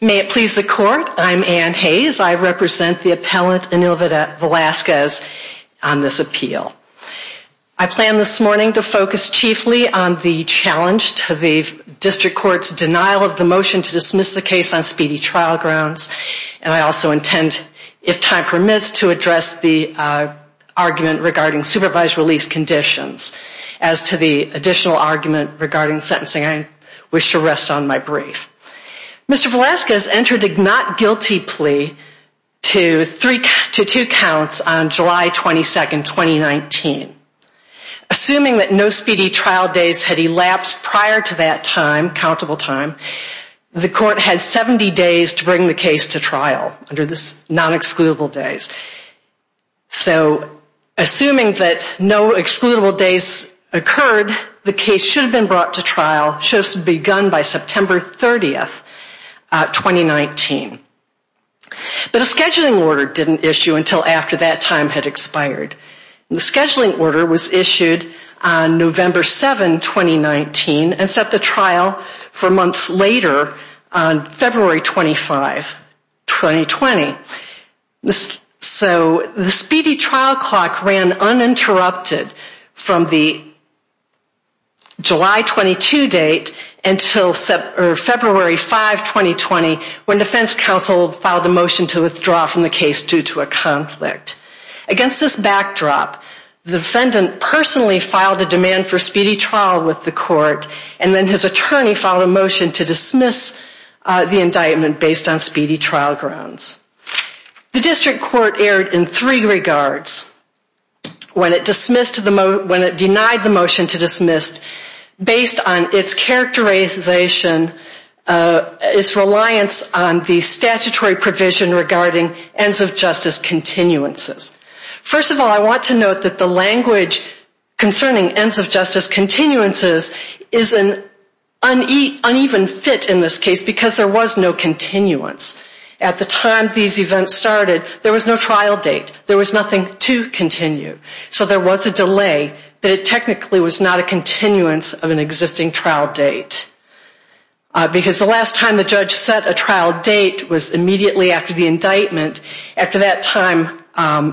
May it please the Court, I am Anne Hayes. I represent the appellant Enil Velasquez on this appeal. I plan this morning to focus chiefly on the challenge to the District Court's denial of the motion to dismiss the case on speedy trial grounds, and I also intend, if time permits, to address the issue of the appeal. I will address the argument regarding supervised release conditions as to the additional argument regarding sentencing. I wish to rest on my brief. Mr. Velasquez entered a not-guilty plea to two counts on July 22, 2019. Assuming that no speedy trial days had elapsed prior to that time, countable time, the Court had 70 days to bring the case to trial under the non-excludable days. So assuming that no excludable days occurred, the case should have been brought to trial, should have begun by September 30, 2019. But a scheduling order didn't issue until after that time had expired. The scheduling order was issued on November 7, 2019 and set the trial for months later on February 25, 2020. So the speedy trial clock ran uninterrupted from the July 22 date until February 5, 2020, when defense counsel filed a motion to withdraw from the case due to a conflict. Against this backdrop, the defendant personally filed a demand for speedy trial with the Court and then his attorney filed a motion to dismiss the indictment based on speedy trial grounds. The District Court erred in three regards when it denied the motion to dismiss based on its characterization, its reliance on the statutory provision regarding ends of justice continuances. First of all, I want to note that the language concerning ends of justice continuances is an uneven fit in this case because there was no continuance. At the time these events started, there was no trial date. There was nothing to continue. So there was a delay, but it technically was not a continuance of an existing trial date. Because the last time the judge set a trial date was immediately after the indictment. After that time,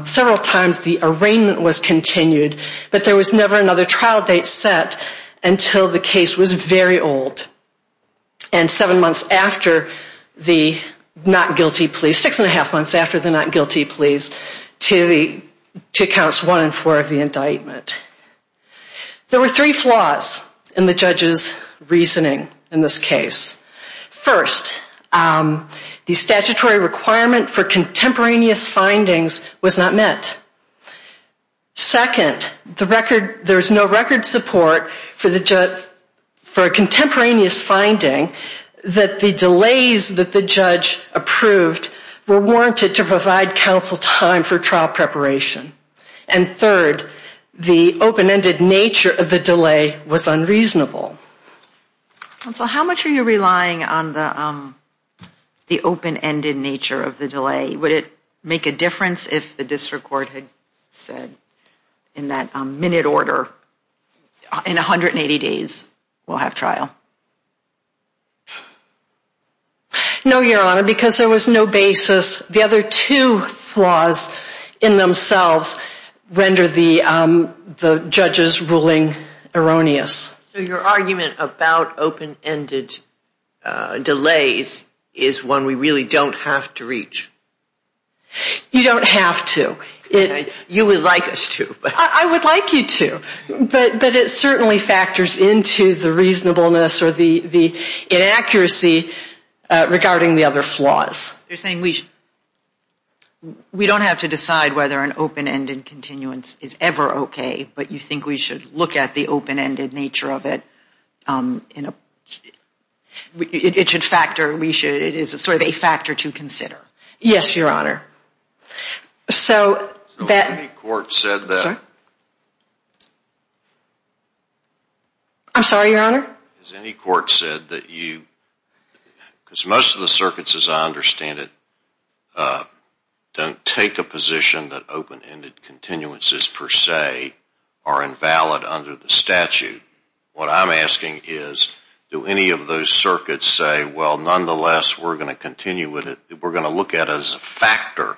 several times the arraignment was continued, but there was never another trial date set until the case was very old. And seven months after the not guilty plea, six and a half months after the not guilty pleas, to accounts one and four of the indictment. There were three flaws in the judge's reasoning in this case. First, the statutory requirement for contemporaneous findings was not met. Second, there was no record support for a contemporaneous finding that the delays that the judge approved were warranted to provide counsel time for trial preparation. And third, the open-ended nature of the delay was unreasonable. Counsel, how much are you relying on the open-ended nature of the delay? Would it make a difference if the district court had said in that minute order, in 180 days we'll have trial? No, Your Honor, because there was no basis. The other two flaws in themselves render the judge's ruling erroneous. So your argument about open-ended delays is one we really don't have to reach? You don't have to. You would like us to. I would like you to, but it certainly factors into the reasonableness or the inaccuracy regarding the other flaws. You're saying we don't have to decide whether an open-ended continuance is ever okay, but you think we should look at the open-ended nature of it? It is sort of a factor to consider. Yes, Your Honor. Has any court said that? I'm sorry, Your Honor? Has any court said that you, because most of the circuits, as I understand it, don't take a position that open-ended continuances per se are invalid under the statute. What I'm asking is, do any of those circuits say, well, nonetheless, we're going to continue with it, we're going to look at it as a factor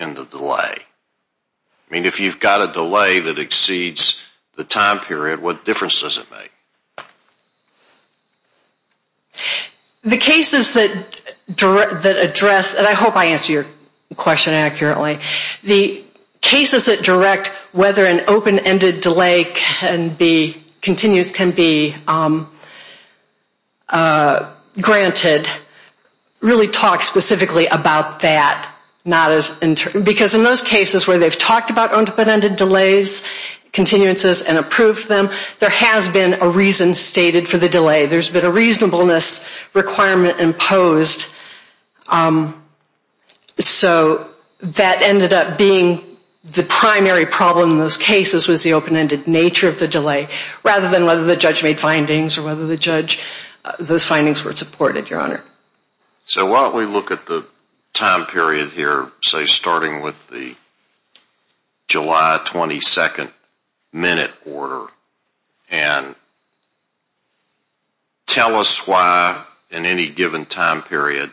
in the delay? I mean, if you've got a delay that exceeds the time period, what difference does it make? The cases that address, and I hope I answered your question accurately. The cases that direct whether an open-ended delay continues can be granted really talk specifically about that. Because in those cases where they've talked about open-ended delays, continuances, and approved them, there has been a reason stated for the delay. There's been a reasonableness requirement imposed. So that ended up being the primary problem in those cases was the open-ended nature of the delay, rather than whether the judge made findings or whether those findings were supported, Your Honor. So why don't we look at the time period here, say starting with the July 22nd minute order, and tell us why in any given time period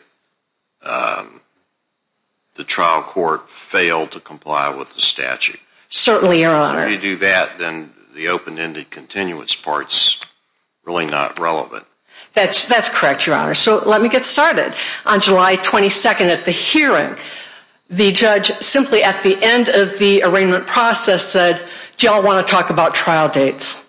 the trial court failed to comply with the statute. Certainly, Your Honor. If you do that, then the open-ended continuance part is really not relevant. That's correct, Your Honor. So let me get started. On July 22nd at the hearing, the judge simply at the end of the arraignment process said, do you all want to talk about trial dates?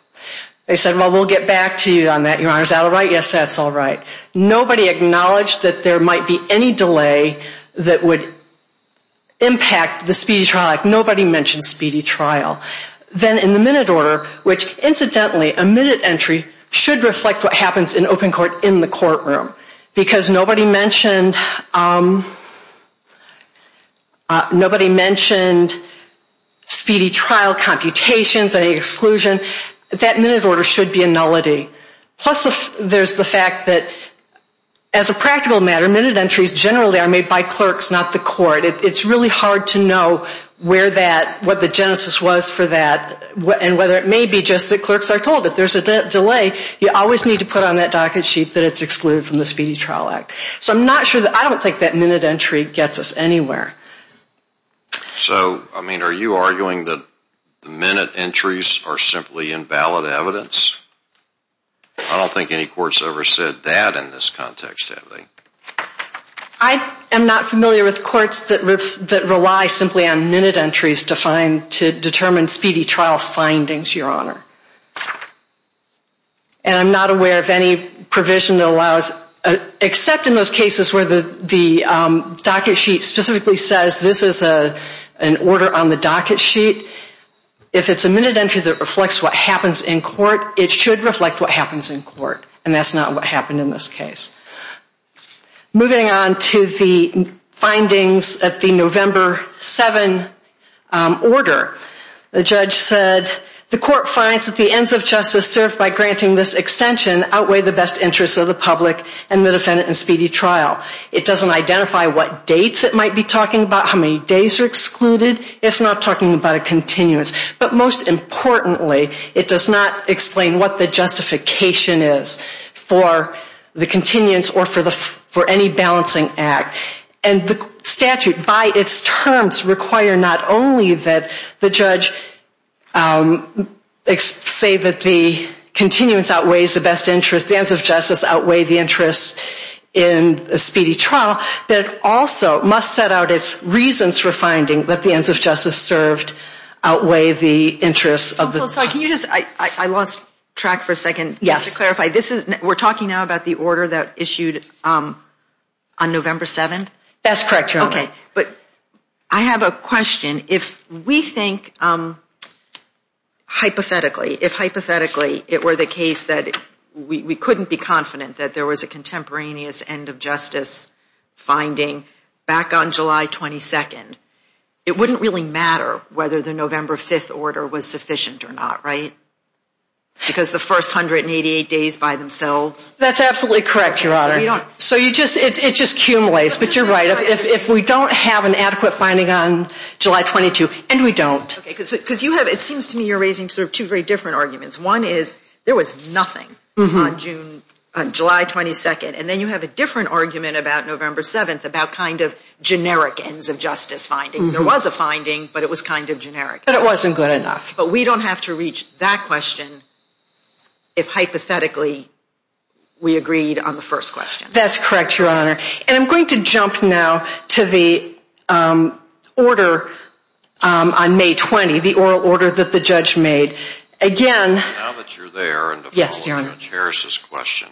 They said, well, we'll get back to you on that, Your Honor. Is that all right? Yes, that's all right. Nobody acknowledged that there might be any delay that would impact the speedy trial. Nobody mentioned speedy trial. Then in the minute order, which incidentally, a minute entry should reflect what happens in open court in the courtroom, because nobody mentioned speedy trial computations, any exclusion. That minute order should be a nullity. Plus there's the fact that as a practical matter, minute entries generally are made by clerks, not the court. It's really hard to know where that, what the genesis was for that, and whether it may be just that clerks are told. If there's a delay, you always need to put on that docket sheet that it's excluded from the Speedy Trial Act. So I'm not sure that, I don't think that minute entry gets us anywhere. So, I mean, are you arguing that the minute entries are simply invalid evidence? I don't think any courts ever said that in this context, have they? I am not familiar with courts that rely simply on minute entries to find, to determine speedy trial findings, Your Honor. And I'm not aware of any provision that allows, except in those cases where the docket sheet specifically says this is an order on the docket sheet. If it's a minute entry that reflects what happens in court, it should reflect what happens in court. And that's not what happened in this case. Moving on to the findings at the November 7 order. The judge said, the court finds that the ends of justice served by granting this extension outweigh the best interests of the public and the defendant in speedy trial. It doesn't identify what dates it might be talking about, how many days are excluded. It's not talking about a continuance. But most importantly, it does not explain what the justification is for the continuance or for any balancing act. And the statute, by its terms, require not only that the judge say that the continuance outweighs the best interest, the ends of justice outweigh the interests in a speedy trial, but it also must set out its reasons for finding that the ends of justice served outweigh the interests of the public. I lost track for a second. Yes. To clarify, we're talking now about the order that issued on November 7? That's correct, Your Honor. Okay, but I have a question. If we think hypothetically, if hypothetically it were the case that we couldn't be confident that there was a contemporaneous end of justice finding back on July 22, it wouldn't really matter whether the November 5 order was sufficient or not, right? Because the first 188 days by themselves? That's absolutely correct, Your Honor. So it just accumulates. But you're right. If we don't have an adequate finding on July 22, and we don't. Okay, because it seems to me you're raising sort of two very different arguments. One is there was nothing on July 22. And then you have a different argument about November 7 about kind of generic ends of justice findings. There was a finding, but it was kind of generic. But it wasn't good enough. But we don't have to reach that question if hypothetically we agreed on the first question. That's correct, Your Honor. And I'm going to jump now to the order on May 20, the oral order that the judge made. Now that you're there and to follow Judge Harris's question,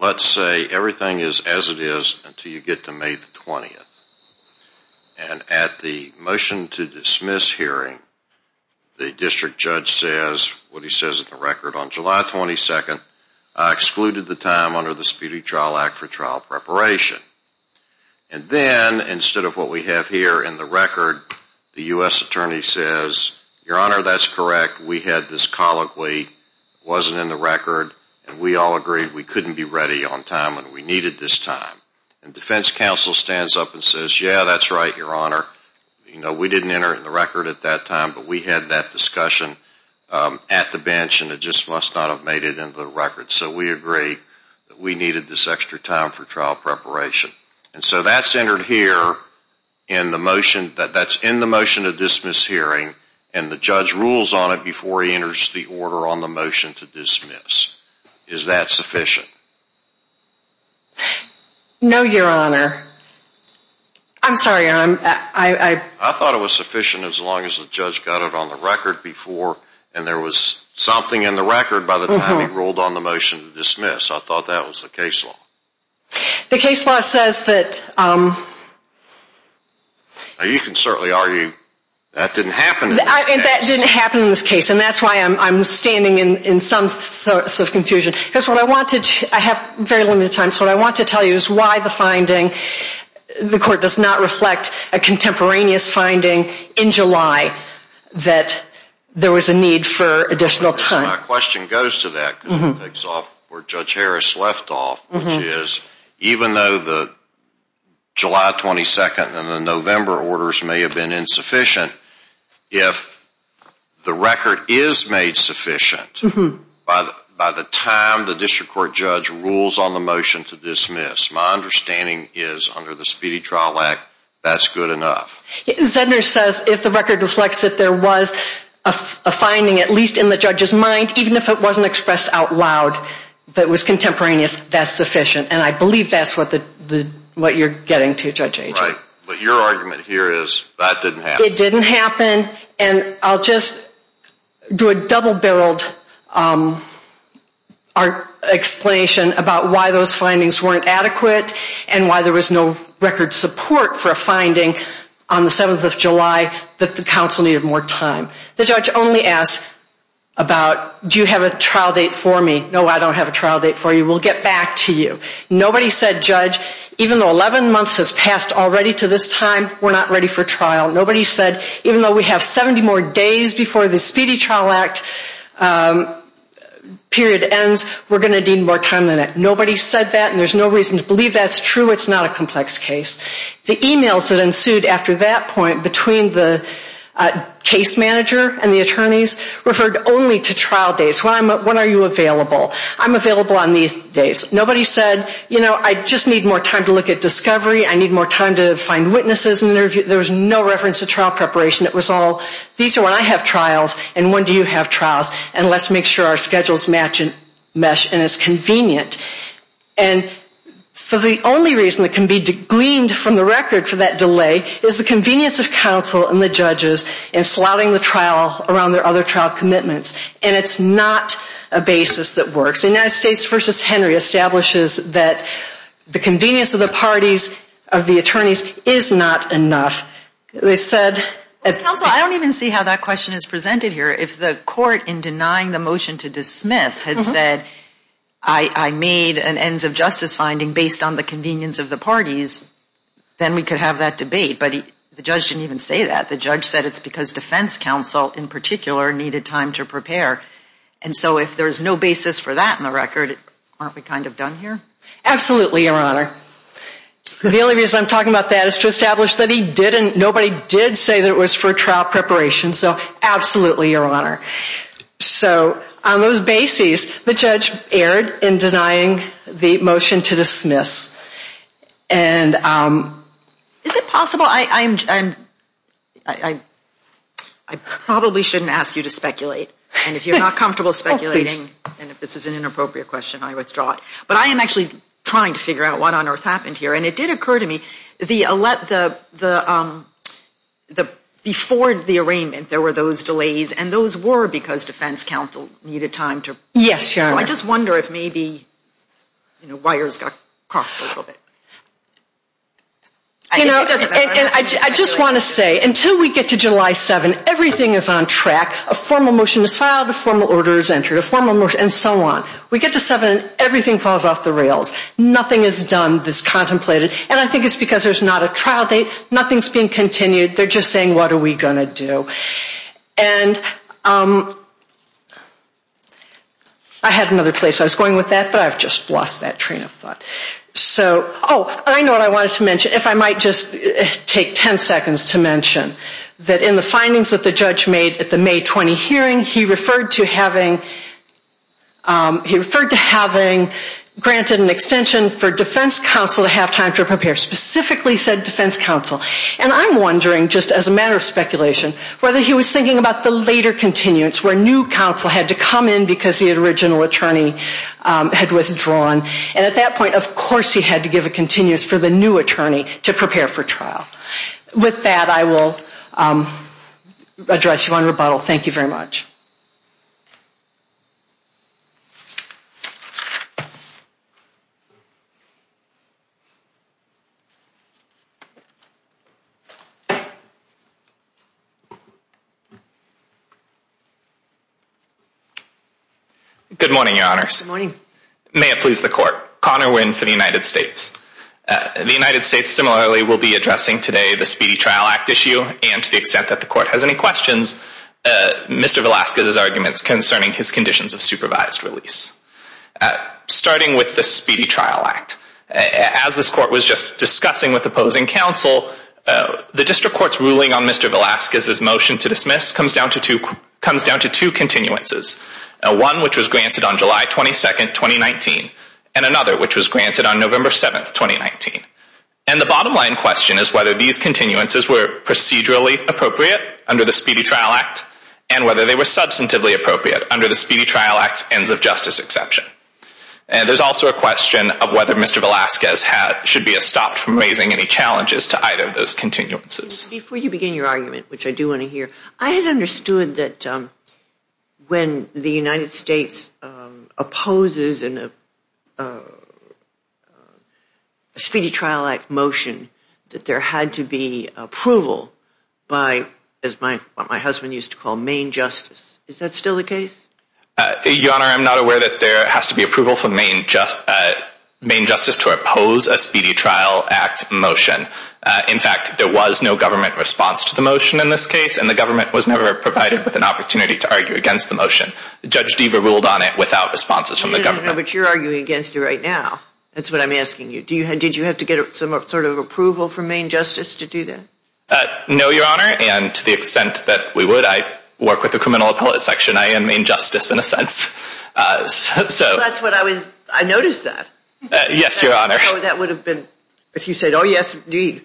let's say everything is as it is until you get to May 20. And at the motion to dismiss hearing, the district judge says what he says in the record. On July 22, I excluded the time under the Speedy Trial Act for trial preparation. And then instead of what we have here in the record, the U.S. attorney says, Your Honor, that's correct. We had this colloquy. It wasn't in the record. And we all agreed we couldn't be ready on time and we needed this time. And defense counsel stands up and says, Yeah, that's right, Your Honor. We didn't enter it in the record at that time, but we had that discussion at the bench and it just must not have made it into the record. So we agreed that we needed this extra time for trial preparation. And so that's entered here in the motion to dismiss hearing, and the judge rules on it before he enters the order on the motion to dismiss. Is that sufficient? No, Your Honor. I'm sorry, Your Honor. I thought it was sufficient as long as the judge got it on the record before and there was something in the record by the time he ruled on the motion to dismiss. I thought that was the case law. The case law says that... You can certainly argue that didn't happen in this case. That didn't happen in this case. And that's why I'm standing in some sort of confusion. I have very limited time, so what I want to tell you is why the finding, the court does not reflect a contemporaneous finding in July that there was a need for additional time. My question goes to that because it takes off where Judge Harris left off, which is even though the July 22nd and the November orders may have been insufficient, if the record is made sufficient by the time the district court judge rules on the motion to dismiss, my understanding is under the Speedy Trial Act, that's good enough. Zedner says if the record reflects that there was a finding, at least in the judge's mind, even if it wasn't expressed out loud, that was contemporaneous, that's sufficient. And I believe that's what you're getting to, Judge Ager. But your argument here is that didn't happen. It didn't happen, and I'll just do a double-barreled explanation about why those findings weren't adequate and why there was no record support for a finding on the 7th of July that the council needed more time. The judge only asked about, do you have a trial date for me? No, I don't have a trial date for you. We'll get back to you. Nobody said, Judge, even though 11 months has passed already to this time, we're not ready for trial. Nobody said, even though we have 70 more days before the Speedy Trial Act period ends, we're going to need more time than that. Nobody said that, and there's no reason to believe that's true. It's not a complex case. The emails that ensued after that point between the case manager and the attorneys referred only to trial dates. When are you available? I'm available on these days. Nobody said, you know, I just need more time to look at discovery. I need more time to find witnesses. There was no reference to trial preparation. It was all, these are when I have trials and when do you have trials, and let's make sure our schedules match and it's convenient. And so the only reason that can be gleaned from the record for that delay is the convenience of counsel and the judges in slouting the trial around their other trial commitments, and it's not a basis that works. The United States v. Henry establishes that the convenience of the parties, of the attorneys, is not enough. They said at the- Counsel, I don't even see how that question is presented here. If the court in denying the motion to dismiss had said, I made an ends of justice finding based on the convenience of the parties, then we could have that debate, but the judge didn't even say that. The judge said it's because defense counsel in particular needed time to prepare. And so if there's no basis for that in the record, aren't we kind of done here? Absolutely, Your Honor. The only reason I'm talking about that is to establish that he didn't, nobody did say that it was for trial preparation. So absolutely, Your Honor. So on those bases, the judge erred in denying the motion to dismiss. I probably shouldn't ask you to speculate. And if you're not comfortable speculating, and if this is an inappropriate question, I withdraw it. But I am actually trying to figure out what on earth happened here. And it did occur to me, the, before the arraignment, there were those delays, and those were because defense counsel needed time to prepare. Yes, Your Honor. So I just wonder if maybe, you know, wires got crossed a little bit. You know, and I just want to say, until we get to July 7th, everything is on track. A formal motion is filed, a formal order is entered, a formal motion, and so on. We get to 7, everything falls off the rails. Nothing is done that's contemplated. And I think it's because there's not a trial date. Nothing's being continued. They're just saying, what are we going to do? And I had another place I was going with that, but I've just lost that train of thought. So, oh, I know what I wanted to mention. If I might just take 10 seconds to mention that in the findings that the judge made at the May 20 hearing, he referred to having granted an extension for defense counsel to have time to prepare, specifically said defense counsel. And I'm wondering, just as a matter of speculation, whether he was thinking about the later continuance where new counsel had to come in because the original attorney had withdrawn. And at that point, of course, he had to give a continuance for the new attorney to prepare for trial. With that, I will address you on rebuttal. Thank you very much. Good morning, Your Honors. Good morning. May it please the Court. Connor Winn for the United States. The United States, similarly, will be addressing today the Speedy Trial Act issue, and to the extent that the Court has any questions, Mr. Velasquez's arguments concerning his conditions of supervised release. Starting with the Speedy Trial Act, as this Court was just discussing with opposing counsel, the District Court's ruling on Mr. Velasquez's motion to dismiss comes down to two continuances, one which was granted on July 22, 2019, and another which was granted on November 7, 2019. And the bottom line question is whether these continuances were procedurally appropriate under the Speedy Trial Act and whether they were substantively appropriate under the Speedy Trial Act's ends of justice exception. And there's also a question of whether Mr. Velasquez should be stopped from raising any challenges to either of those continuances. Before you begin your argument, which I do want to hear, I had understood that when the United States opposes a Speedy Trial Act motion, that there had to be approval by what my husband used to call Maine Justice. Is that still the case? Your Honor, I'm not aware that there has to be approval for Maine Justice to oppose a Speedy Trial Act motion. In fact, there was no government response to the motion in this case, and the government was never provided with an opportunity to argue against the motion. Judge Deva ruled on it without responses from the government. But you're arguing against it right now. That's what I'm asking you. Did you have to get some sort of approval from Maine Justice to do that? No, Your Honor, and to the extent that we would, I work with the criminal appellate section. I am Maine Justice in a sense. I noticed that. Yes, Your Honor. That would have been if you said, oh, yes, indeed,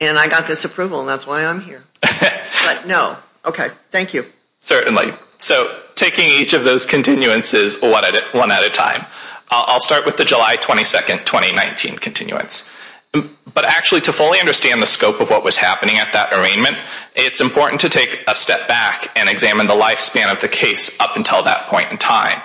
and I got this approval, and that's why I'm here. But no. Okay. Thank you. Certainly. So taking each of those continuances one at a time. I'll start with the July 22, 2019 continuance. But actually to fully understand the scope of what was happening at that arraignment, it's important to take a step back and examine the lifespan of the case up until that point in time.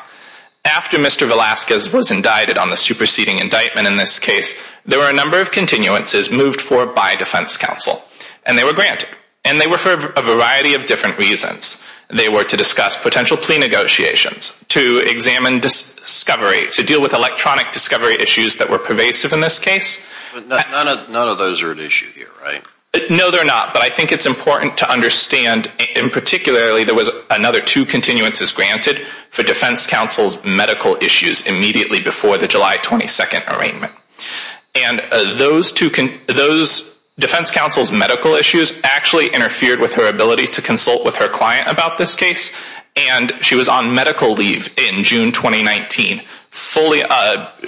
After Mr. Velazquez was indicted on the superseding indictment in this case, there were a number of continuances moved forward by defense counsel. And they were granted. And they were for a variety of different reasons. They were to discuss potential plea negotiations, to examine discovery, to deal with electronic discovery issues that were pervasive in this case. But none of those are at issue here, right? No, they're not. But I think it's important to understand, and particularly there was another two continuances granted for defense counsel's medical issues immediately before the July 22nd arraignment. And those defense counsel's medical issues actually interfered with her ability to consult with her client about this case. And she was on medical leave in June 2019, fully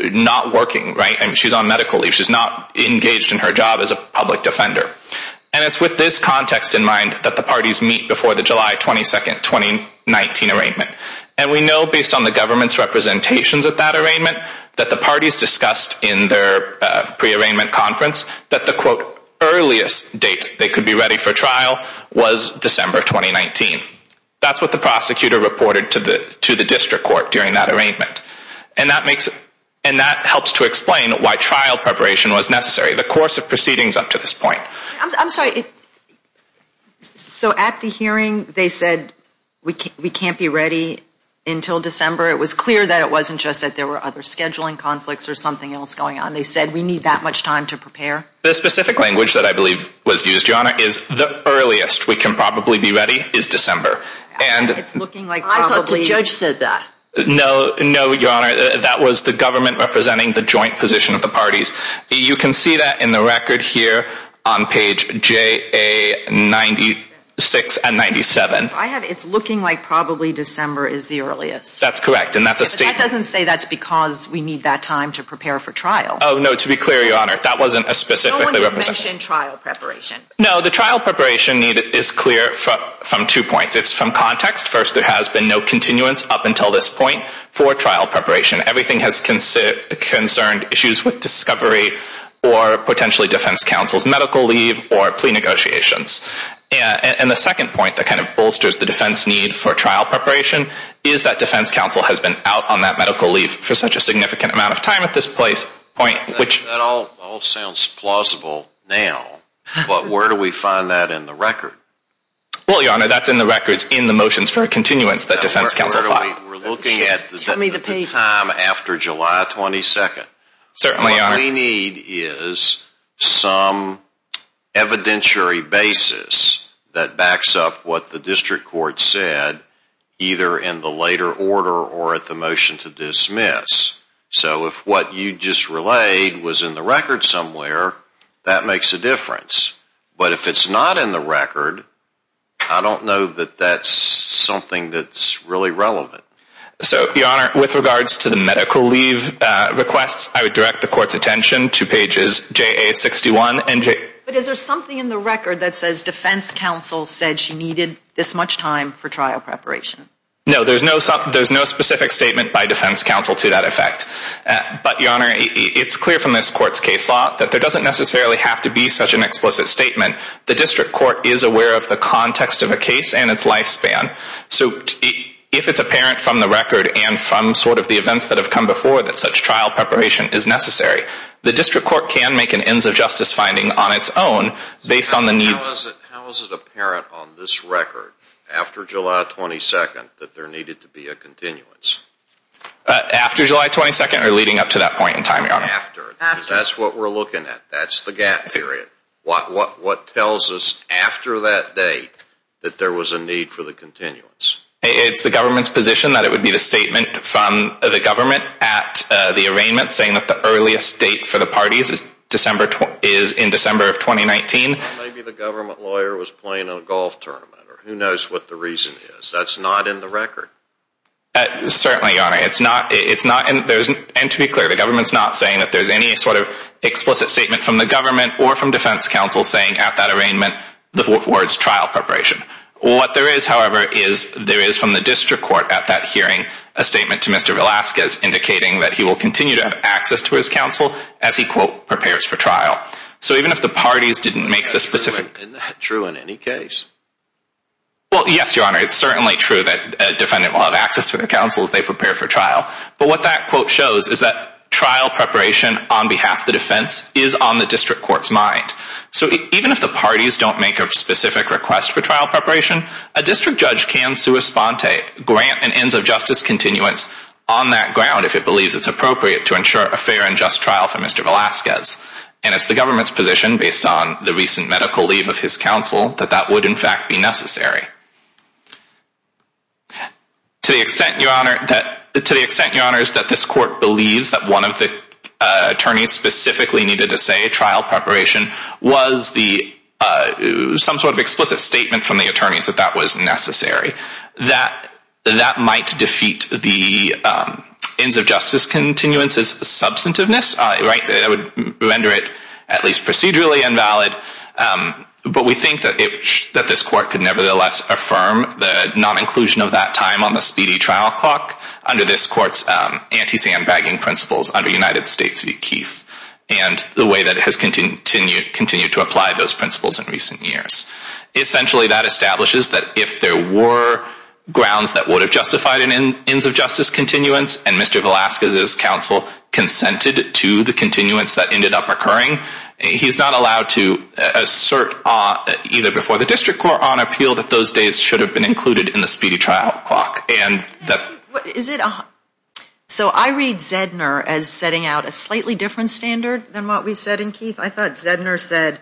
not working, right? She's on medical leave. She's not engaged in her job as a public defender. And it's with this context in mind that the parties meet before the July 22nd, 2019 arraignment. And we know, based on the government's representations at that arraignment, that the parties discussed in their pre-arraignment conference that the, quote, earliest date they could be ready for trial was December 2019. That's what the prosecutor reported to the district court during that arraignment. And that helps to explain why trial preparation was necessary the course of proceedings up to this point. I'm sorry. So at the hearing, they said we can't be ready until December. It was clear that it wasn't just that there were other scheduling conflicts or something else going on. They said we need that much time to prepare. The specific language that I believe was used, Your Honor, is the earliest we can probably be ready is December. And it's looking like probably. I thought the judge said that. No, Your Honor. That was the government representing the joint position of the parties. You can see that in the record here on page JA96 and 97. It's looking like probably December is the earliest. That's correct. That doesn't say that's because we need that time to prepare for trial. Oh, no. To be clear, Your Honor, that wasn't a specific representation. No one did mention trial preparation. No, the trial preparation is clear from two points. It's from context. First, there has been no continuance up until this point for trial preparation. Everything has concerned issues with discovery or potentially defense counsel's medical leave or plea negotiations. And the second point that kind of bolsters the defense need for trial preparation is that defense counsel has been out on that medical leave for such a significant amount of time at this point. That all sounds plausible now, but where do we find that in the record? Well, Your Honor, that's in the records in the motions for continuance that defense counsel filed. We're looking at the time after July 22nd. Certainly, Your Honor. What we need is some evidentiary basis that backs up what the district court said either in the later order or at the motion to dismiss. So if what you just relayed was in the record somewhere, that makes a difference. But if it's not in the record, I don't know that that's something that's really relevant. So, Your Honor, with regards to the medical leave requests, I would direct the court's attention to pages JA-61 and JA- But is there something in the record that says defense counsel said she needed this much time for trial preparation? No, there's no specific statement by defense counsel to that effect. But, Your Honor, it's clear from this court's case law that there doesn't necessarily have to be such an explicit statement. The district court is aware of the context of a case and its lifespan. So if it's apparent from the record and from sort of the events that have come before that such trial preparation is necessary, the district court can make an ends of justice finding on its own based on the needs- How is it apparent on this record, after July 22nd, that there needed to be a continuance? After July 22nd or leading up to that point in time, Your Honor? After. That's what we're looking at. That's the gap period. What tells us after that date that there was a need for the continuance? It's the government's position that it would be the statement from the government at the arraignment saying that the earliest date for the parties is in December of 2019. Maybe the government lawyer was playing a golf tournament or who knows what the reason is. That's not in the record. Certainly, Your Honor. And to be clear, the government's not saying that there's any sort of explicit statement from the government or from defense counsel saying at that arraignment the words trial preparation. What there is, however, is there is from the district court at that hearing a statement to Mr. Velasquez indicating that he will continue to have access to his counsel as he, quote, prepares for trial. So even if the parties didn't make the specific- Is that true in any case? Well, yes, Your Honor. It's certainly true that a defendant will have access to the counsel as they prepare for trial. But what that quote shows is that trial preparation on behalf of the defense is on the district court's mind. So even if the parties don't make a specific request for trial preparation, a district judge can sui sponte grant an ends of justice continuance on that ground if it believes it's appropriate to ensure a fair and just trial for Mr. Velasquez. And it's the government's position, based on the recent medical leave of his counsel, that that would in fact be necessary. To the extent, Your Honor, that this court believes that one of the attorneys specifically needed to say trial preparation was some sort of explicit statement from the attorneys that that was necessary, that that might defeat the ends of justice continuance's substantiveness. That would render it at least procedurally invalid. But we think that this court could nevertheless affirm the non-inclusion of that time on the speedy trial clock under this court's anti-sandbagging principles under United States v. Keith and the way that it has continued to apply those principles in recent years. Essentially, that establishes that if there were grounds that would have justified an ends of justice continuance and Mr. Velasquez's counsel consented to the continuance that ended up occurring, he's not allowed to assert either before the district court on appeal that those days should have been included in the speedy trial clock. So I read Zedner as setting out a slightly different standard than what we said in Keith. I thought Zedner said,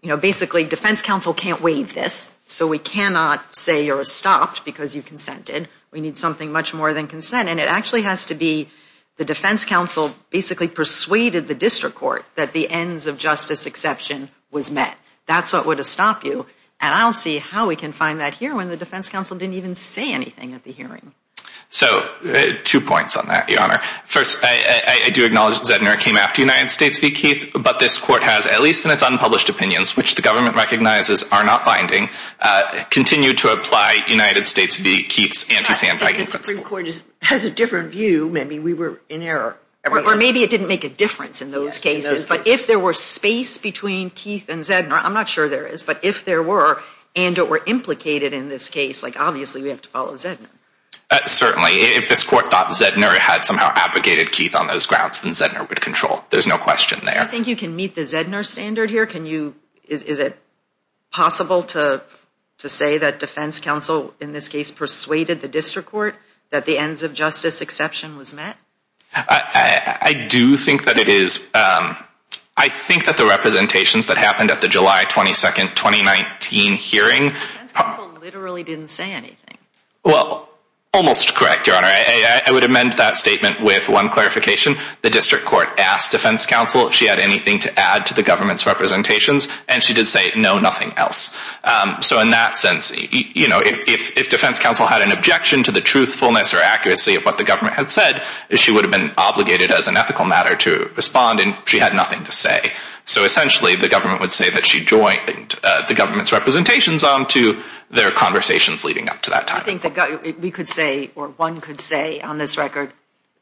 you know, basically defense counsel can't waive this, so we cannot say you're stopped because you consented. We need something much more than consent. And it actually has to be the defense counsel basically persuaded the district court that the ends of justice exception was met. That's what would have stopped you. And I'll see how we can find that here when the defense counsel didn't even say anything at the hearing. So two points on that, Your Honor. First, I do acknowledge that Zedner came after United States v. Keith, but this court has, at least in its unpublished opinions, which the government recognizes are not binding, continued to apply United States v. Keith's anti-sandbagging principle. I think the district court has a different view. Maybe we were in error. Or maybe it didn't make a difference in those cases. But if there were space between Keith and Zedner, I'm not sure there is, but if there were and or implicated in this case, like obviously we have to follow Zedner. Certainly. If this court thought Zedner had somehow abrogated Keith on those grounds, then Zedner would control. There's no question there. I think you can meet the Zedner standard here. Is it possible to say that defense counsel in this case persuaded the district court that the ends of justice exception was met? I do think that it is. I think that the representations that happened at the July 22, 2019 hearing The defense counsel literally didn't say anything. Well, almost correct, Your Honor. I would amend that statement with one clarification. The district court asked defense counsel if she had anything to add to the government's representations, and she did say no, nothing else. So in that sense, you know, if defense counsel had an objection to the truthfulness or accuracy of what the government had said, she would have been obligated as an ethical matter to respond, and she had nothing to say. So essentially, the government would say that she joined the government's representations on to their conversations leading up to that time. I think we could say, or one could say on this record,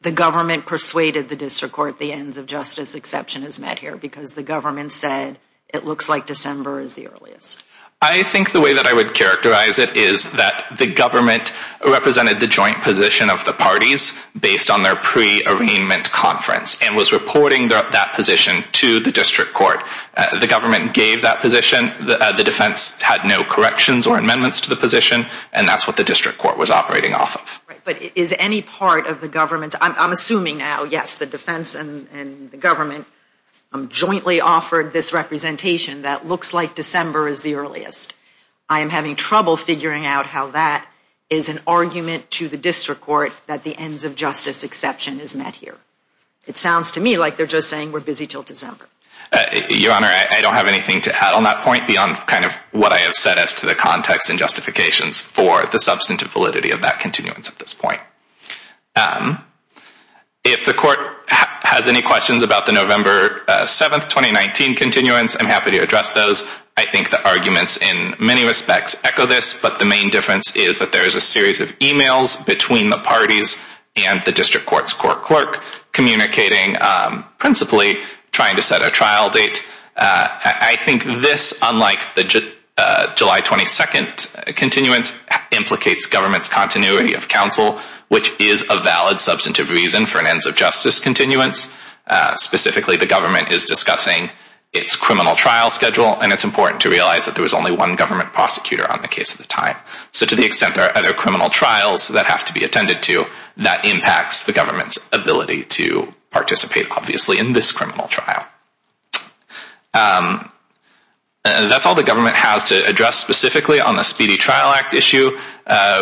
the government persuaded the district court the ends of justice exception is met here because the government said it looks like December is the earliest. I think the way that I would characterize it is that the government represented the joint position of the parties based on their pre-arraignment conference and was reporting that position to the district court. The government gave that position. The defense had no corrections or amendments to the position, and that's what the district court was operating off of. But is any part of the government's, I'm assuming now, yes, the defense and the government jointly offered this representation that looks like December is the earliest. I am having trouble figuring out how that is an argument to the district court that the ends of justice exception is met here. It sounds to me like they're just saying we're busy until December. Your Honor, I don't have anything to add on that point beyond kind of what I have said as to the context and justifications for the substantive validity of that continuance at this point. If the court has any questions about the November 7, 2019 continuance, I'm happy to address those. I think the arguments in many respects echo this, but the main difference is that there is a series of e-mails between the parties and the district court's court clerk communicating principally trying to set a trial date. I think this, unlike the July 22 continuance, implicates government's continuity of counsel, which is a valid substantive reason for an ends of justice continuance. Specifically, the government is discussing its criminal trial schedule, and it's important to realize that there was only one government prosecutor on the case at the time. So to the extent there are other criminal trials that have to be attended to, that impacts the government's ability to participate, obviously, in this criminal trial. That's all the government has to address specifically on the Speedy Trial Act issue.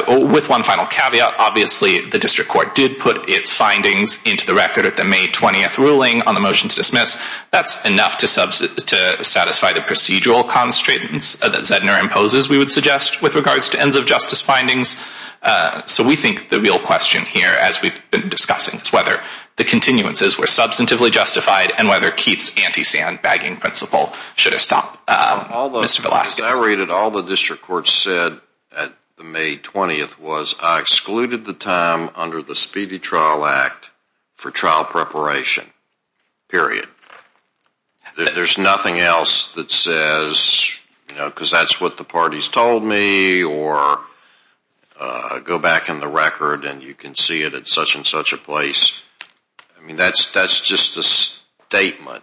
With one final caveat, obviously, the district court did put its findings into the record at the May 20 ruling on the motion to dismiss. That's enough to satisfy the procedural constraints that Zedner imposes, we would suggest, with regards to ends of justice findings. So we think the real question here, as we've been discussing, is whether the continuances were substantively justified and whether Keith's anti-sandbagging principle should have stopped. Mr. Velasquez? As I read it, all the district court said at the May 20th was, I excluded the time under the Speedy Trial Act for trial preparation, period. There's nothing else that says, because that's what the parties told me, or go back in the record and you can see it at such and such a place. I mean, that's just a statement.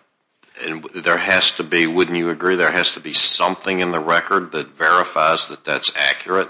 And there has to be, wouldn't you agree, there has to be something in the record that verifies that that's accurate?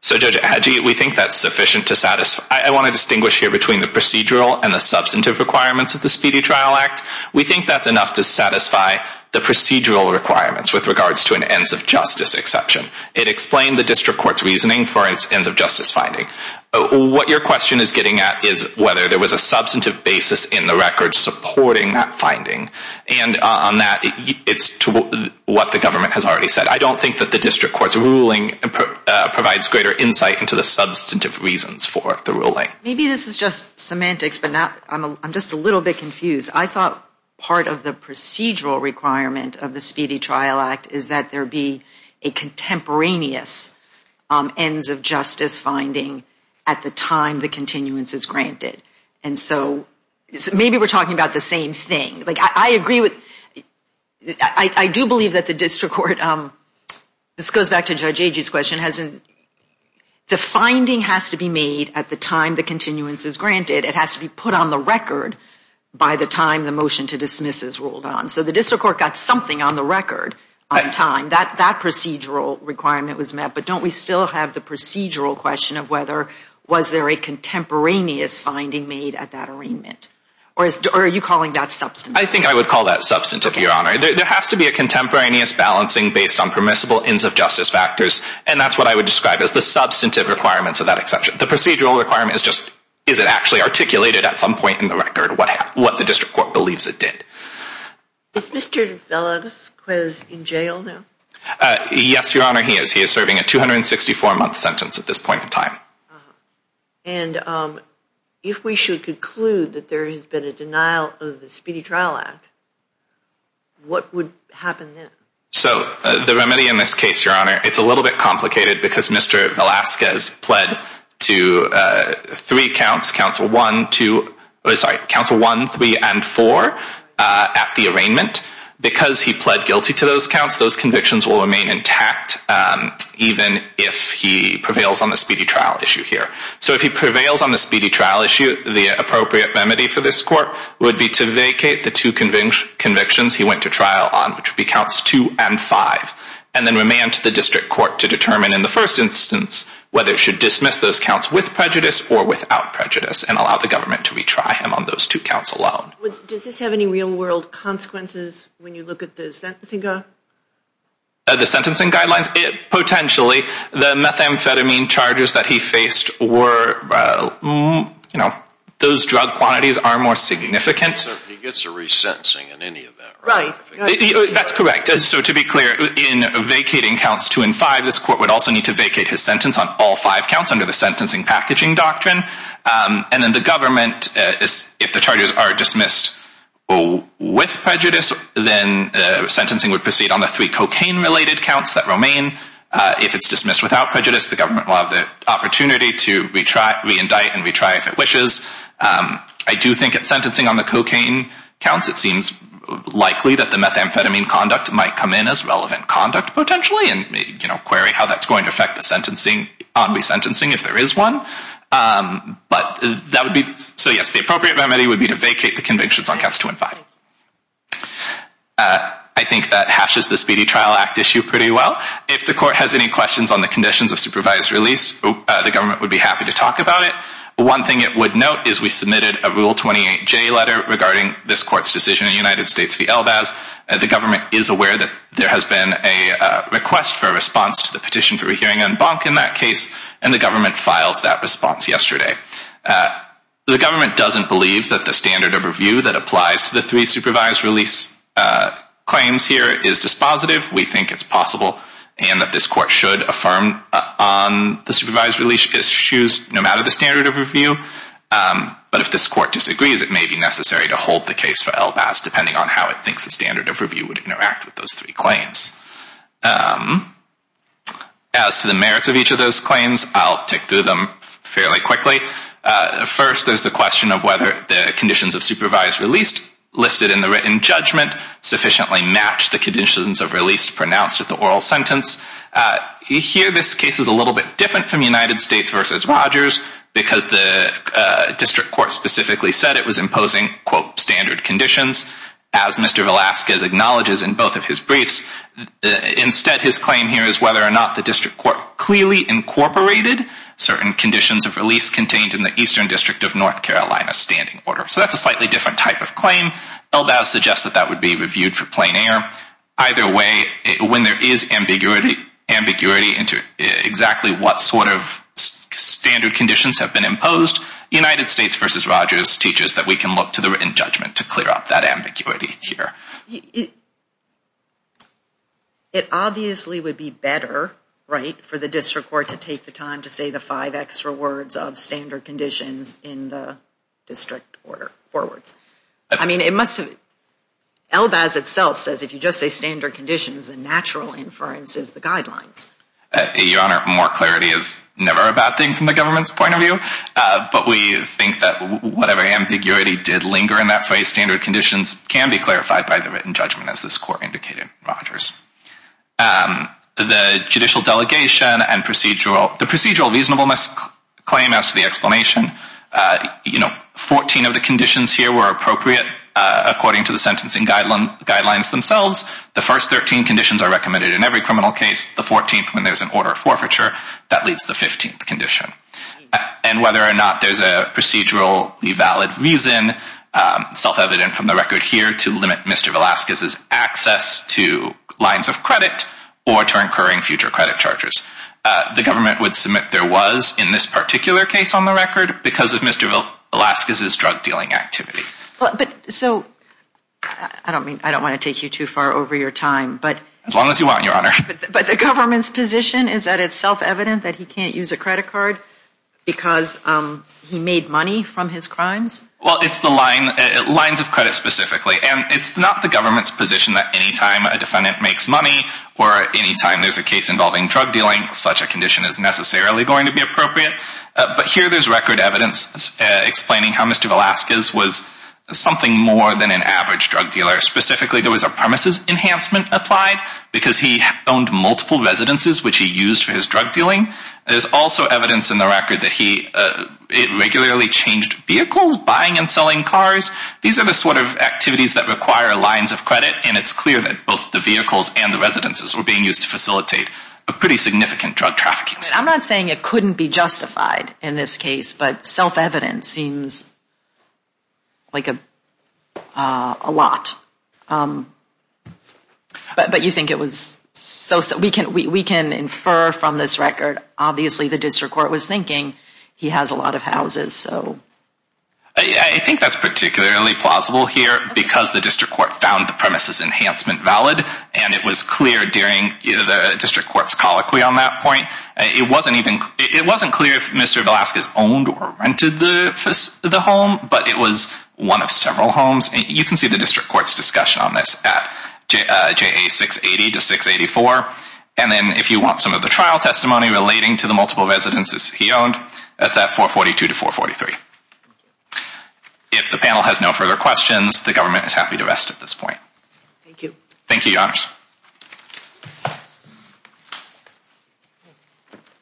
So, Judge Adjei, we think that's sufficient to satisfy. I want to distinguish here between the procedural and the substantive requirements of the Speedy Trial Act. We think that's enough to satisfy the procedural requirements with regards to an ends of justice exception. It explained the district court's reasoning for its ends of justice finding. What your question is getting at is whether there was a substantive basis in the record supporting that finding. And on that, it's to what the government has already said. I don't think that the district court's ruling provides greater insight into the substantive reasons for the ruling. Maybe this is just semantics, but I'm just a little bit confused. I thought part of the procedural requirement of the Speedy Trial Act is that there be a contemporaneous ends of justice finding at the time the continuance is granted. And so maybe we're talking about the same thing. Like, I agree with, I do believe that the district court, this goes back to Judge Adjei's question, the finding has to be made at the time the continuance is granted. It has to be put on the record by the time the motion to dismiss is ruled on. So the district court got something on the record on time. That procedural requirement was met, but don't we still have the procedural question of whether was there a contemporaneous finding made at that arraignment? Or are you calling that substantive? I think I would call that substantive, Your Honor. There has to be a contemporaneous balancing based on permissible ends of justice factors, and that's what I would describe as the substantive requirements of that exception. The procedural requirement is just, is it actually articulated at some point in the record what the district court believes it did? Is Mr. Velasquez in jail now? Yes, Your Honor, he is. He is serving a 264-month sentence at this point in time. And if we should conclude that there has been a denial of the Speedy Trial Act, what would happen then? So the remedy in this case, Your Honor, it's a little bit complicated because Mr. Velasquez pled to three counts, Council 1, 3, and 4 at the arraignment. Because he pled guilty to those counts, those convictions will remain intact even if he prevails on the speedy trial issue here. So if he prevails on the speedy trial issue, the appropriate remedy for this court would be to vacate the two convictions he went to trial on, which would be Counts 2 and 5, and then remand to the district court to determine in the first instance whether it should dismiss those counts with prejudice or without prejudice and allow the government to retry him on those two counts alone. Does this have any real-world consequences when you look at the sentencing guidelines? The sentencing guidelines? Potentially. The methamphetamine charges that he faced were, you know, those drug quantities are more significant. So if he gets a resentencing in any of that, right? That's correct. So to be clear, in vacating Counts 2 and 5, this court would also need to vacate his sentence on all five counts under the Sentencing Packaging Doctrine. And then the government, if the charges are dismissed with prejudice, then sentencing would proceed on the three cocaine-related counts that remain. If it's dismissed without prejudice, the government will have the opportunity to reindict and retry if it wishes. I do think at sentencing on the cocaine counts, it seems likely that the methamphetamine conduct might come in as relevant conduct potentially and, you know, query how that's going to affect the sentencing on resentencing if there is one. But that would be—so yes, the appropriate remedy would be to vacate the convictions on Counts 2 and 5. I think that hashes the Speedy Trial Act issue pretty well. If the court has any questions on the conditions of supervised release, the government would be happy to talk about it. One thing it would note is we submitted a Rule 28J letter regarding this court's decision in the United States v. Elbaz. The government is aware that there has been a request for a response to the petition for a hearing on Bonk in that case, and the government filed that response yesterday. The government doesn't believe that the standard of review that applies to the three supervised release claims here is dispositive. We think it's possible and that this court should affirm on the supervised release issues no matter the standard of review. But if this court disagrees, it may be necessary to hold the case for Elbaz depending on how it thinks the standard of review would interact with those three claims. As to the merits of each of those claims, I'll tick through them fairly quickly. First, there's the question of whether the conditions of supervised release listed in the written judgment sufficiently match the conditions of release pronounced at the oral sentence. Here, this case is a little bit different from United States v. Rogers because the district court specifically said that it was imposing, quote, standard conditions, as Mr. Velazquez acknowledges in both of his briefs. Instead, his claim here is whether or not the district court clearly incorporated certain conditions of release contained in the Eastern District of North Carolina standing order. So that's a slightly different type of claim. Elbaz suggests that that would be reviewed for plain air. Either way, when there is ambiguity into exactly what sort of standard conditions have been imposed, United States v. Rogers teaches that we can look to the written judgment to clear up that ambiguity here. It obviously would be better, right, for the district court to take the time to say the five extra words of standard conditions in the district order forwards. I mean, it must have... Elbaz itself says if you just say standard conditions, the natural inference is the guidelines. Your Honor, more clarity is never a bad thing from the government's point of view, but we think that whatever ambiguity did linger in that phrase, standard conditions can be clarified by the written judgment, as this court indicated in Rogers. The judicial delegation and procedural... The procedural reasonableness claim as to the explanation, you know, 14 of the conditions here were appropriate according to the sentencing guidelines themselves. The first 13 conditions are recommended in every criminal case. The 14th, when there's an order of forfeiture, that leaves the 15th condition. And whether or not there's a procedurally valid reason, self-evident from the record here, to limit Mr. Velazquez's access to lines of credit or to incurring future credit charges. The government would submit there was, in this particular case on the record, because of Mr. Velazquez's drug-dealing activity. But, so, I don't want to take you too far over your time, but... The government's position is that it's self-evident that he can't use a credit card because he made money from his crimes? Well, it's the lines of credit specifically. And it's not the government's position that anytime a defendant makes money or anytime there's a case involving drug-dealing, such a condition is necessarily going to be appropriate. But here there's record evidence explaining how Mr. Velazquez was something more than an average drug dealer. Specifically, there was a premises enhancement applied because he owned multiple residences which he used for his drug-dealing. There's also evidence in the record that he regularly changed vehicles, buying and selling cars. These are the sort of activities that require lines of credit, and it's clear that both the vehicles and the residences were being used to facilitate a pretty significant drug trafficking. I'm not saying it couldn't be justified in this case, but self-evident seems like a lot. But you think it was... We can infer from this record, obviously the district court was thinking he has a lot of houses, so... I think that's particularly plausible here because the district court found the premises enhancement valid, and it was clear during the district court's colloquy on that point. It wasn't clear if Mr. Velazquez owned or rented the home, but it was one of several homes. You can see the district court's discussion on this at JA 680-684. And then if you want some of the trial testimony relating to the multiple residences he owned, that's at 442-443. If the panel has no further questions, the government is happy to rest at this point. Thank you. Thank you, Your Honors.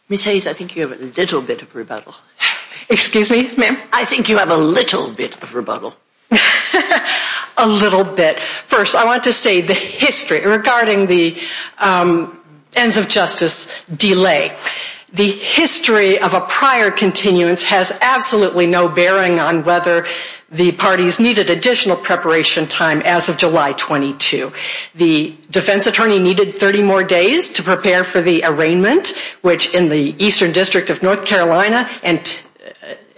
Ms. Hayes, I think you have a little bit of rebuttal. Excuse me, ma'am? I think you have a little bit of rebuttal. A little bit. First, I want to say the history regarding the ends of justice delay. The history of a prior continuance has absolutely no bearing on whether the parties needed additional preparation time as of July 22. The defense attorney needed 30 more days to prepare for the arraignment, which in the Eastern District of North Carolina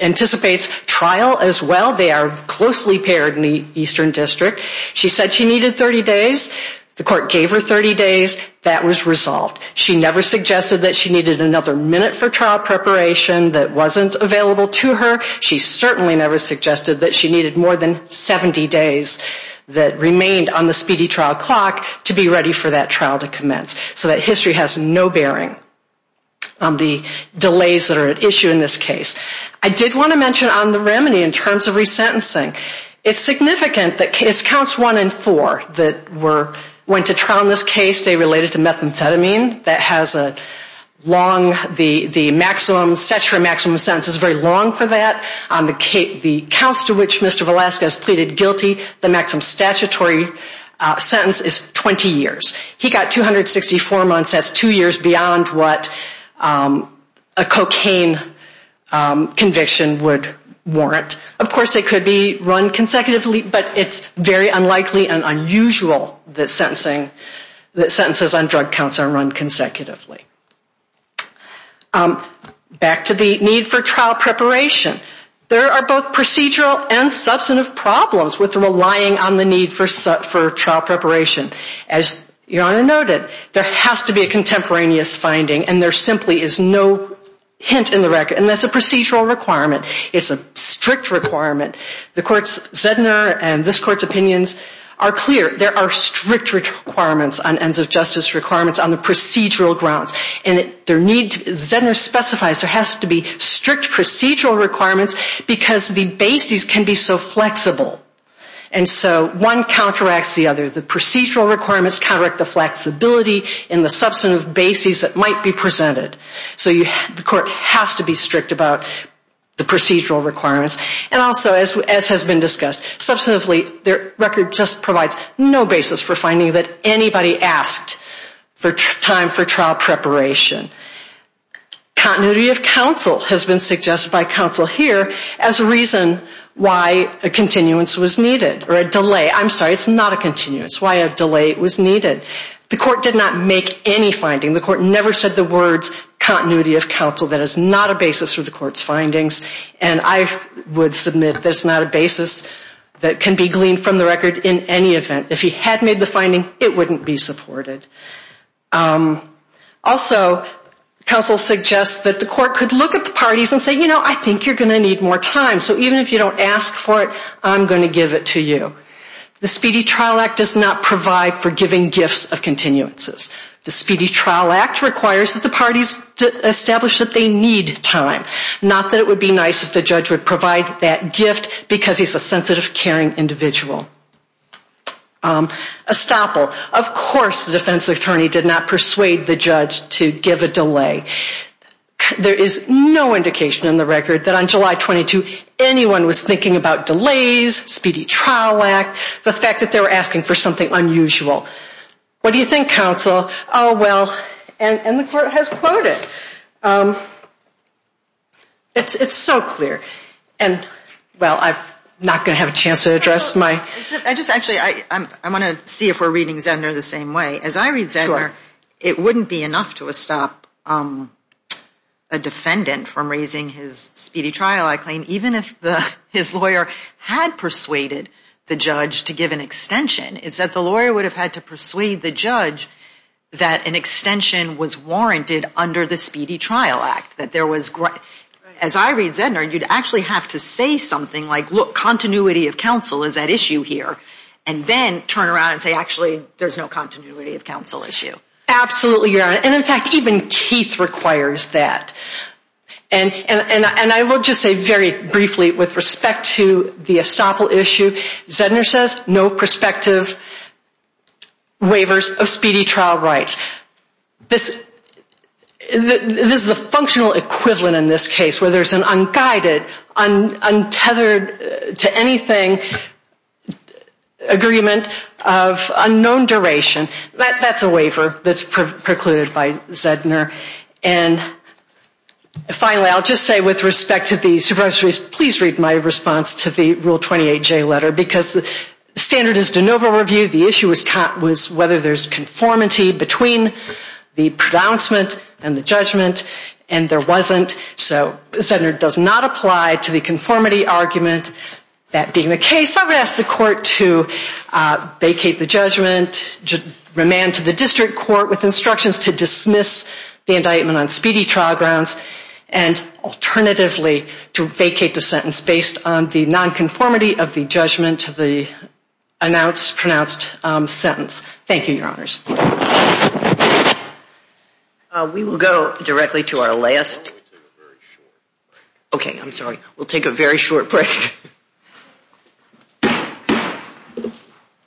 anticipates trial as well. They are closely paired in the Eastern District. She said she needed 30 days. The court gave her 30 days. That was resolved. She never suggested that she needed another minute for trial preparation that wasn't available to her. She certainly never suggested that she needed more than 70 days that remained on the speedy trial clock to be ready for that trial to commence. So that history has no bearing on the delays that are at issue in this case. I did want to mention on the remedy in terms of resentencing, it's significant that it's counts one and four that went to trial in this case. They related to methamphetamine. That has a long, the maximum sentence is very long for that. The counts to which Mr. Velasquez pleaded guilty, the maximum statutory sentence is 20 years. He got 264 months. That's two years beyond what a cocaine conviction would warrant. Of course, they could be run consecutively, but it's very unlikely and unusual that sentences on drug counts are run consecutively. Back to the need for trial preparation. There are both procedural and substantive problems with relying on the need for trial preparation. As Your Honor noted, there has to be a contemporaneous finding, and there simply is no hint in the record. And that's a procedural requirement. It's a strict requirement. The court's, Zedner and this court's opinions are clear. There are strict requirements on ends of justice requirements on the procedural grounds. Zedner specifies there has to be strict procedural requirements because the bases can be so flexible. And so one counteracts the other. The procedural requirements counteract the flexibility and the substantive bases that might be presented. So the court has to be strict about the procedural requirements. And also, as has been discussed, their record just provides no basis for finding that anybody asked for time for trial preparation. Continuity of counsel has been suggested by counsel here as a reason why a continuance was needed or a delay. I'm sorry, it's not a continuance. Why a delay was needed. The court did not make any finding. The court never said the words continuity of counsel. That is not a basis for the court's findings. And I would submit that it's not a basis that can be gleaned from the record in any event. If he had made the finding, it wouldn't be supported. Also, counsel suggests that the court could look at the parties and say, you know, I think you're going to need more time. So even if you don't ask for it, I'm going to give it to you. The Speedy Trial Act does not provide for giving gifts of continuances. The Speedy Trial Act requires that the parties establish that they need time. Not that it would be nice if the judge would provide that gift because he's a sensitive, caring individual. A stopple. Of course the defense attorney did not persuade the judge to give a delay. There is no indication in the record that on July 22 anyone was thinking about delays, Speedy Trial Act, the fact that they were asking for something unusual. What do you think, counsel? Oh, well, and the court has quoted. It's so clear. And, well, I'm not going to have a chance to address my... Actually, I want to see if we're reading Zender the same way. As I read Zender, it wouldn't be enough to stop a defendant from raising his speedy trial, I claim, even if his lawyer had persuaded the judge to give an extension. It's that the lawyer would have had to persuade the judge that an extension was warranted under the Speedy Trial Act. That there was... As I read Zender, you'd actually have to say something like, look, continuity of counsel is at issue here. And then turn around and say, actually, there's no continuity of counsel issue. Absolutely, Your Honor. And, in fact, even Keith requires that. And I will just say very briefly with respect to the stopple issue, Zender says no prospective waivers of speedy trial rights. This is a functional equivalent in this case, where there's an unguided, untethered-to-anything agreement of unknown duration. That's a waiver that's precluded by Zender. And, finally, I'll just say with respect to the supervisory, please read my response to the Rule 28J letter. Because the standard is de novo review. The issue was whether there's conformity between the pronouncement and the judgment. And there wasn't. So Zender does not apply to the conformity argument. That being the case, I would ask the court to vacate the judgment, remand to the district court with instructions to dismiss the indictment on speedy trial grounds, and alternatively to vacate the sentence based on the nonconformity of the judgment to the announced pronounced sentence. Thank you, Your Honors. We will go directly to our last. Okay, I'm sorry. We'll take a very short break.